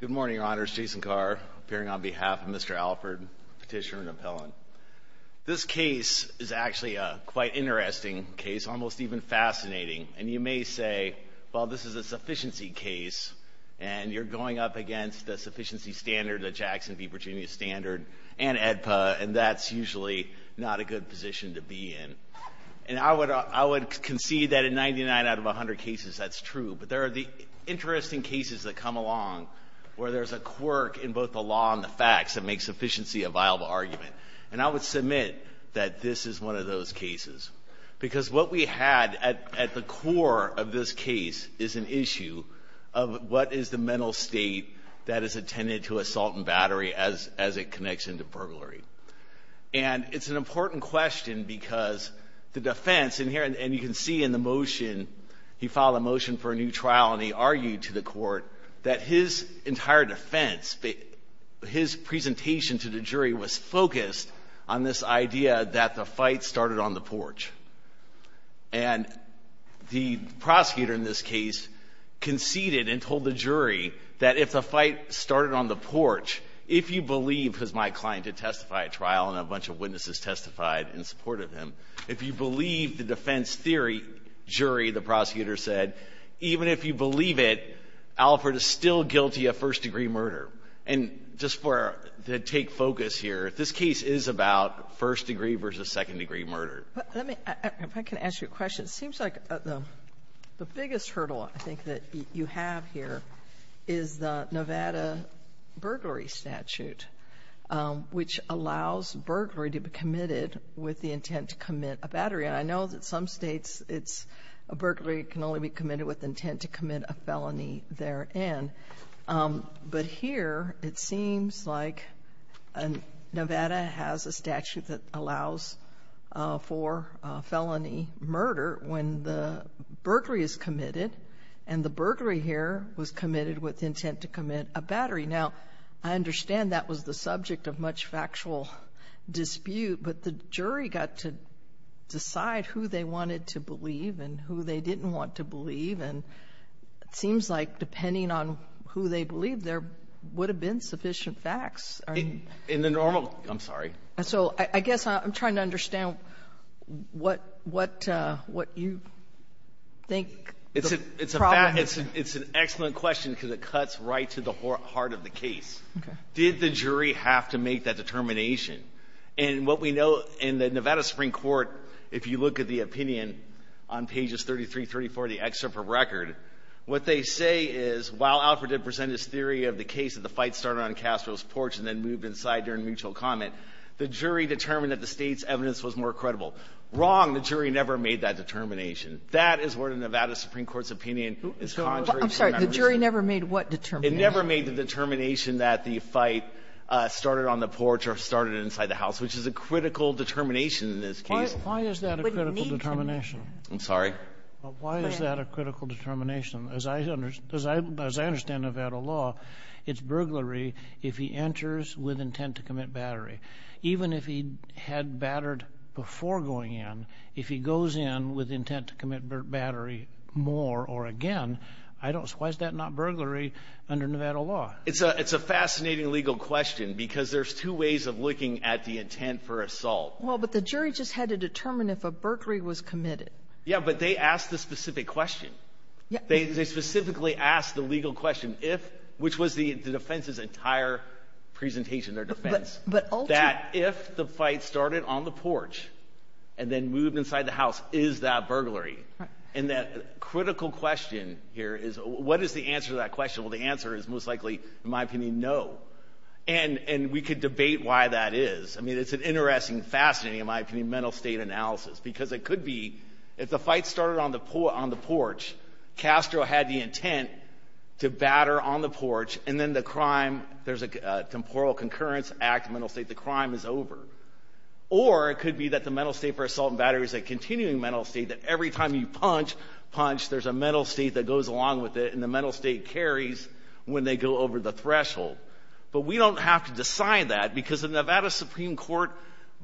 Good morning, Your Honors. Jason Carr, appearing on behalf of Mr. Alford, Petitioner and Appellant. This case is actually a quite interesting case, almost even fascinating. And you may say, well, this is a sufficiency case, and you're going up against a sufficiency standard, a Jackson v. Virginia standard, and AEDPA, and that's usually not a good position to be in. And I would concede that in 99 out of 100 cases that's true. But there are the interesting cases that come along where there's a quirk in both the law and the facts that makes sufficiency a viable argument. And I would submit that this is one of those cases. Because what we had at the core of this case is an issue of what is the mental state that is attended to assault and battery as it connects into burglary. And it's an important question because the defense in here, and you can see in the motion, he filed a motion for a new trial, and he argued to the court that his entire defense, his presentation to the jury was focused on this idea that the fight started on the porch. And the prosecutor in this case conceded and told the jury that if the fight started on the porch, if you believe, because my client had testified at trial and a bunch of witnesses testified in support of him, if you believe the defense theory, jury, the prosecutor said, even if you believe it, Alford is still guilty of first-degree murder. And just to take focus here, this case is about first-degree versus second-degree murder. Sotomayor, if I can ask you a question. It seems like the biggest hurdle I think that you have here is the Nevada burglary statute, which allows burglary to be committed with the intent to commit a battery. And I know that some States, it's a burglary can only be committed with the intent to commit a felony therein. But here, it seems like Nevada has a statute that allows for felony murder when the burglary is committed, and the burglary here was committed with the intent to commit a battery. Now, I understand that was the subject of much factual dispute, but the jury got to decide who they wanted to believe and who they didn't want to believe. And it seems like, depending on who they believed, there would have been sufficient facts. In the normal – I'm sorry. So I guess I'm trying to understand what you think the problem is. It's an excellent question because it cuts right to the heart of the case. Did the jury have to make that determination? And what we know in the Nevada Supreme Court, if you look at the opinion on pages 33, 34 of the excerpt from the record, what they say is while Alford did present this theory of the case that the fight started on Castro's porch and then moved inside during mutual comment, the jury determined that the State's evidence was more credible. Wrong. The jury never made that determination. That is where the Nevada Supreme Court's opinion is contrary to the Nevada Supreme Court. I'm sorry. The jury never made what determination? It never made the determination that the fight started on the porch or started inside the house, which is a critical determination in this case. Why is that a critical determination? I'm sorry? Why is that a critical determination? As I understand Nevada law, it's burglary if he enters with intent to commit battery. Even if he had battered before going in, if he goes in with intent to commit battery more or again, why is that not burglary under Nevada law? It's a fascinating legal question because there's two ways of looking at the intent for assault. Well, but the jury just had to determine if a burglary was committed. Yeah, but they asked the specific question. Yeah. They specifically asked the legal question if, which was the defense's entire presentation, their defense, that if the fight started on the porch and then moved inside the house, is that burglary? Right. And that critical question here is what is the answer to that question? Well, the answer is most likely, in my opinion, no. mental state analysis because it could be if the fight started on the porch, Castro had the intent to batter on the porch and then the crime, there's a temporal concurrence act, mental state, the crime is over. Or it could be that the mental state for assault and battery is a continuing mental state that every time you punch, punch, there's a mental state that goes along with it and the mental state carries when they go over the threshold. But we don't have to decide that because the Nevada Supreme Court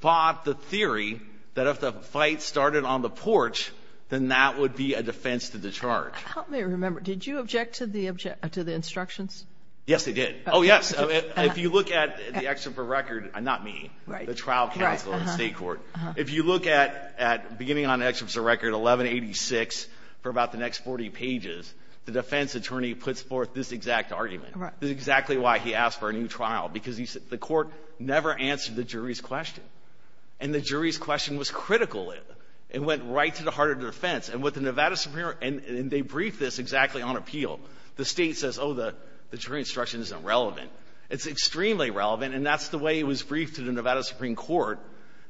bought the theory that if the fight started on the porch, then that would be a defense to discharge. Help me remember. Did you object to the instructions? Yes, I did. Oh, yes. If you look at the excerpt of the record, not me, the trial counsel in the State Court, if you look at beginning on the excerpt of the record, 1186 for about the next 40 pages, the defense attorney puts forth this exact argument. Right. This is exactly why he asked for a new trial, because the court never answered the jury's question. And the jury's question was critical. It went right to the heart of the defense. And with the Nevada Supreme Court, and they briefed this exactly on appeal. The State says, oh, the jury instruction isn't relevant. It's extremely relevant. And that's the way it was briefed to the Nevada Supreme Court,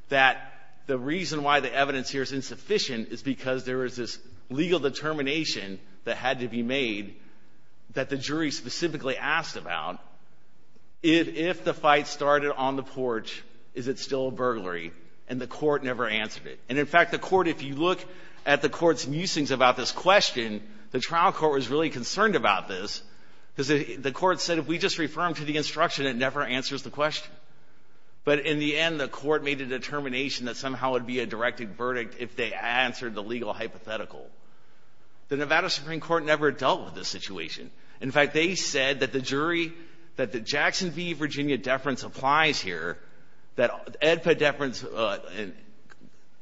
that the reason why the evidence here is insufficient is because there is this legal determination that had to be made that the jury specifically asked about. If the fight started on the porch, is it still a burglary? And the court never answered it. And, in fact, the court, if you look at the court's musings about this question, the trial court was really concerned about this, because the court said if we just refer them to the instruction, it never answers the question. But in the end, the court made a determination that somehow it would be a directed verdict if they answered the legal hypothetical. The Nevada Supreme Court never dealt with this situation. In fact, they said that the jury, that the Jackson v. Virginia deference applies here, that Edpa deference,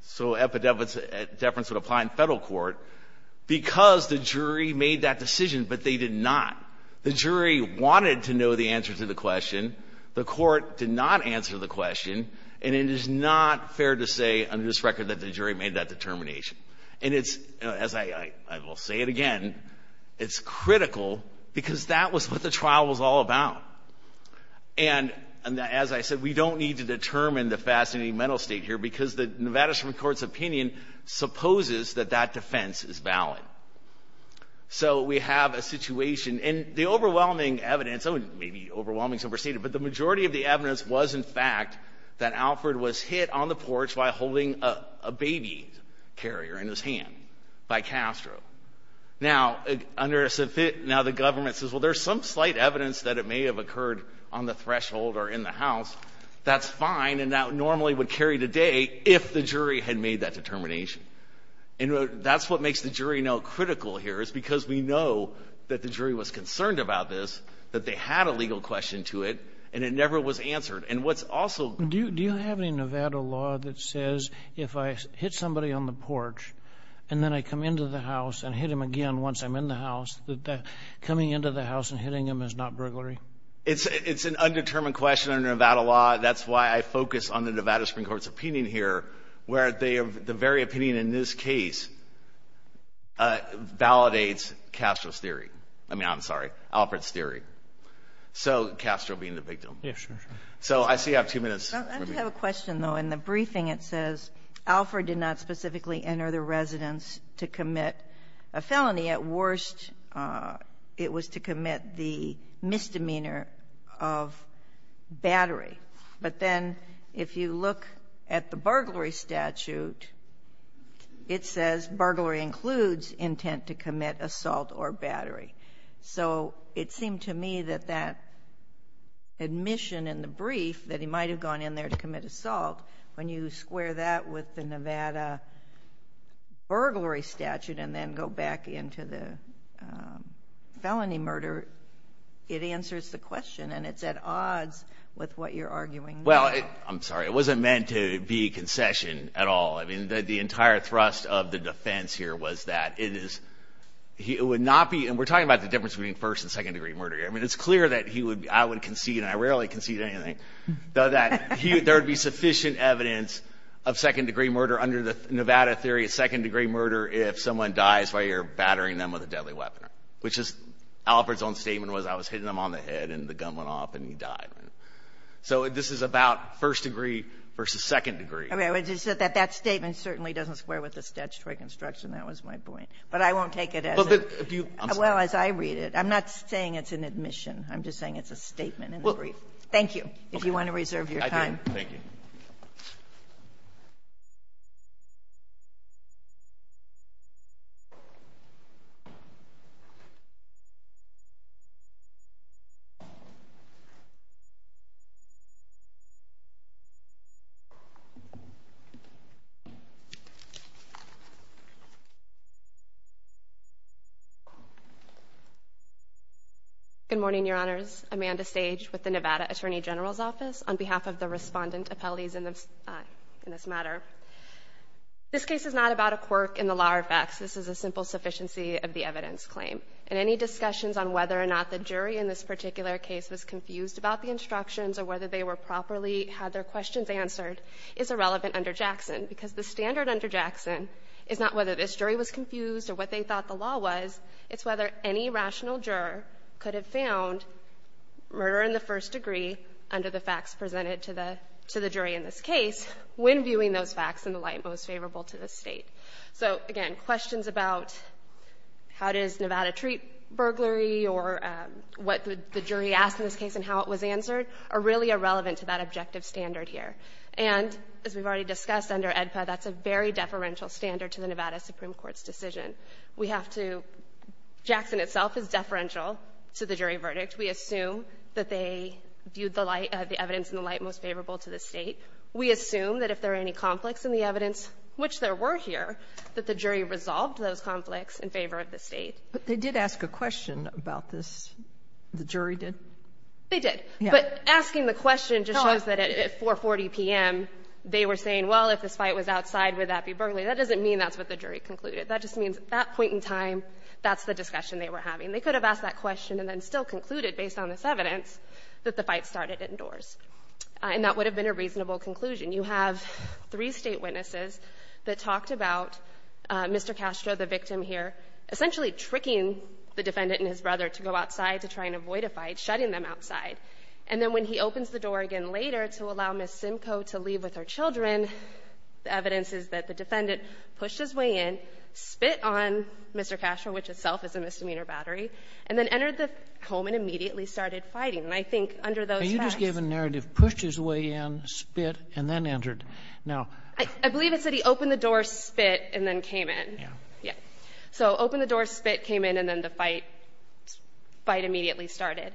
so Edpa deference would apply in Federal court, because the jury made that decision, but they did not. The jury wanted to know the answer to the question. The court did not answer the question. And it is not fair to say under this record that the jury made that determination. And it's, as I will say it again, it's critical, because that was what the trial was all about. And as I said, we don't need to determine the fascinating mental state here, because the Nevada Supreme Court's opinion supposes that that defense is valid. So we have a situation. And the overwhelming evidence, maybe overwhelming is overstated, but the majority of the evidence was, in fact, that Alford was hit on the porch by holding a baby carrier in his hand by Castro. Now, under the government says, well, there's some slight evidence that it may have occurred on the threshold or in the house. That's fine, and that normally would carry the day if the jury had made that determination. That's what makes the jury no critical here, is because we know that the jury was Do you have a Nevada law that says if I hit somebody on the porch and then I come into the house and hit him again once I'm in the house, that coming into the house and hitting him is not bruglary? It's an undetermined question under Nevada law. That's why I focus on the Nevada Supreme Court's opinion here, where the very opinion in this case validates Castro's theory. I mean, I'm sorry, Alford's theory. So Castro being the victim. Yes, sure, sure. So I see you have two minutes. I have a question, though. In the briefing it says Alford did not specifically enter the residence to commit a felony. At worst, it was to commit the misdemeanor of battery. But then if you look at the burglary statute, it says burglary includes intent to commit assault or battery. So it seemed to me that that admission in the brief that he might have gone in there to commit assault, when you square that with the Nevada burglary statute and then go back into the felony murder, it answers the question. And it's at odds with what you're arguing now. Well, I'm sorry. It wasn't meant to be concession at all. I mean, the entire thrust of the defense here was that it is – it would not be – and we're talking about the difference between first and second-degree murder here. I mean, it's clear that he would – I would concede, and I rarely concede anything, that there would be sufficient evidence of second-degree murder under the Nevada theory of second-degree murder if someone dies while you're battering them with a deadly weapon, which is – Alford's own statement was I was hitting him on the head and the gun went off and he died. So this is about first-degree versus second-degree. I mean, that statement certainly doesn't square with the statutory construction. That was my point. But I won't take it as a – Well, but if you – I'm sorry. Well, as I read it. I'm not saying it's an admission. I'm just saying it's a statement in the brief. Thank you, if you want to reserve your time. I do. Thank you. Good morning, Your Honors. Amanda Sage with the Nevada Attorney General's Office on behalf of the Respondent appellees in this matter. This case is not about a quirk in the law or facts. This is a simple sufficiency of the evidence claim. And any discussions on whether or not the jury in this particular case was confused about the instructions or whether they were properly – had their questions answered is irrelevant under Jackson, because the standard under Jackson is not whether this jury was confused or what they thought the law was. It's whether any rational juror could have found murder in the first degree under the facts presented to the jury in this case when viewing those facts in the light most favorable to the State. So, again, questions about how does Nevada treat burglary or what the jury asked in this case and how it was answered are really irrelevant to that objective standard here. And as we've already discussed under AEDPA, that's a very deferential standard to the Nevada Supreme Court's decision. We have to – Jackson itself is deferential to the jury verdict. We assume that they viewed the light – the evidence in the light most favorable to the State. We assume that if there are any conflicts in the evidence, which there were here, that the jury resolved those conflicts in favor of the State. But they did ask a question about this. The jury did? They did. But asking the question just shows that at 4.40 p.m., they were saying, well, if this is true, then that's what the jury concluded. That just means at that point in time, that's the discussion they were having. They could have asked that question and then still concluded, based on this evidence, that the fight started indoors, and that would have been a reasonable conclusion. You have three State witnesses that talked about Mr. Castro, the victim here, essentially tricking the defendant and his brother to go outside to try and avoid a fight, shutting them outside. And then when he opens the door again later to allow Ms. Simcoe to leave with her brother, he pushed his way in, spit on Mr. Castro, which itself is a misdemeanor battery, and then entered the home and immediately started fighting. And I think under those facts he could have done that. And you just gave a narrative, pushed his way in, spit, and then entered. Now, I believe it said he opened the door, spit, and then came in. Yeah. Yeah. So opened the door, spit, came in, and then the fight immediately started.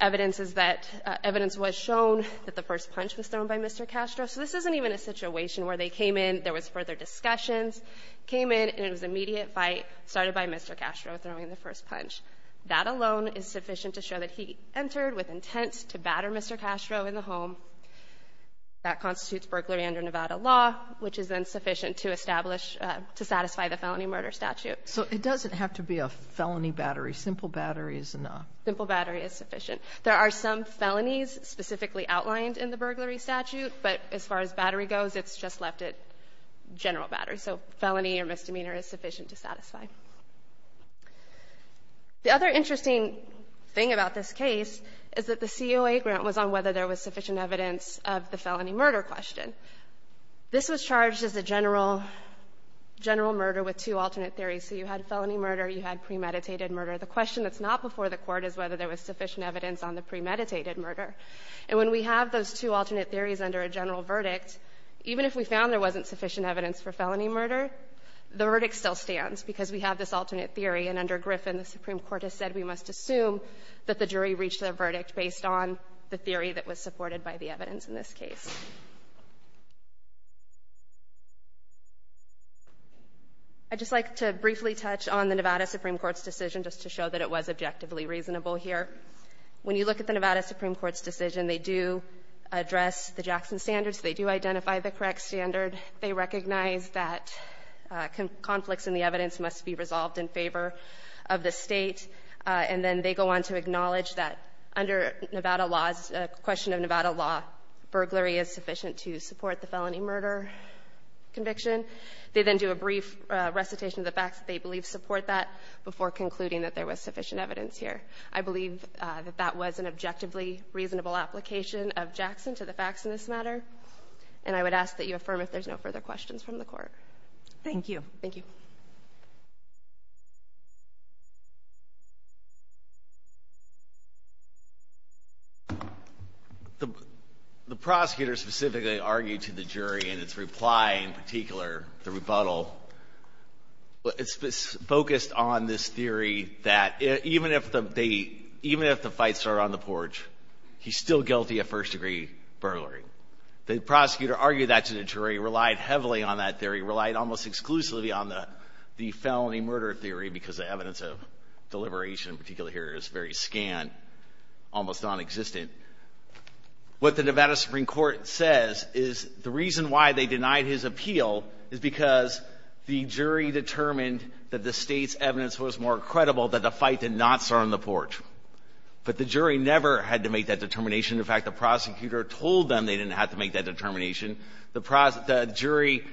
Evidence is that evidence was shown that the first punch was thrown by Mr. Castro. So this isn't even a situation where they came in, there was further discussions, came in, and it was an immediate fight started by Mr. Castro throwing the first punch. That alone is sufficient to show that he entered with intent to batter Mr. Castro in the home. That constitutes burglary under Nevada law, which is then sufficient to establish to satisfy the felony murder statute. So it doesn't have to be a felony battery. Simple battery is enough. Simple battery is sufficient. There are some felonies specifically outlined in the burglary statute, but as far as battery goes, it's just left at general battery. So felony or misdemeanor is sufficient to satisfy. The other interesting thing about this case is that the COA grant was on whether there was sufficient evidence of the felony murder question. This was charged as a general, general murder with two alternate theories. So you had felony murder, you had premeditated murder. The question that's not before the Court is whether there was sufficient evidence on the premeditated murder. And when we have those two alternate theories under a general verdict, even if we found there wasn't sufficient evidence for felony murder, the verdict still stands because we have this alternate theory, and under Griffin, the Supreme Court has said we must assume that the jury reached their verdict based on the theory that was supported by the evidence in this case. I'd just like to briefly touch on the Nevada Supreme Court's decision just to show that it was objectively reasonable here. When you look at the Nevada Supreme Court's decision, they do address the Jackson standards. They do identify the correct standard. They recognize that conflicts in the evidence must be resolved in favor of the State, and then they go on to acknowledge that under Nevada laws, question of Nevada law, burglary is sufficient to support the felony murder conviction. They then do a brief recitation of the facts that they believe support that before concluding that there was sufficient evidence here. I believe that that was an objectively reasonable application of Jackson to the facts in this matter, and I would ask that you affirm if there's no further questions from the Court. Thank you. Thank you. The prosecutor specifically argued to the jury in its reply, in particular, the rebuttal, focused on this theory that even if the fights are on the porch, he's still guilty of first-degree burglary. The prosecutor argued that to the jury, relied heavily on that theory, relied almost exclusively on the felony murder theory because the evidence of deliberation, particularly here, is very scant, almost nonexistent. What the Nevada Supreme Court says is the reason why they denied his appeal is because the jury determined that the State's evidence was more credible that the fight did not start on the porch. But the jury never had to make that determination. In fact, the prosecutor told them they didn't have to make that determination. The jury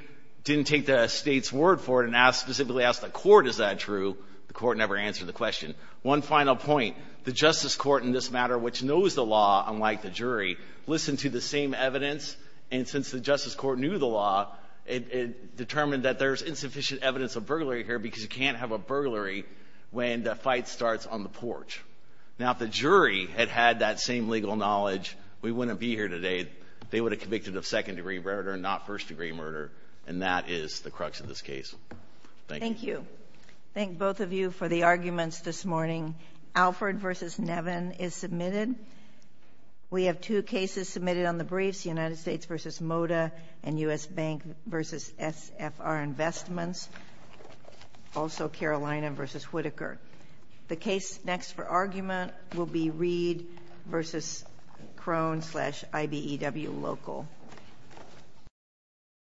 didn't take the State's word for it and specifically asked the Court, is that true? The Court never answered the question. One final point. The Justice Court in this matter, which knows the law, unlike the jury, listened to the same evidence. And since the Justice Court knew the law, it determined that there's insufficient evidence of burglary here because you can't have a burglary when the fight starts on the porch. Now, if the jury had had that same legal knowledge, we wouldn't be here today. They would have convicted of second-degree murder and not first-degree murder, and that is the crux of this case. Thank you. Thank you. Thank both of you for the arguments this morning. Alford v. Nevin is submitted. We have two cases submitted on the briefs, United States v. Moda and U.S. Bank v. SFR Investments, also Carolina v. Whitaker. The case next for argument will be Reed v. Crone v. IBEW Local.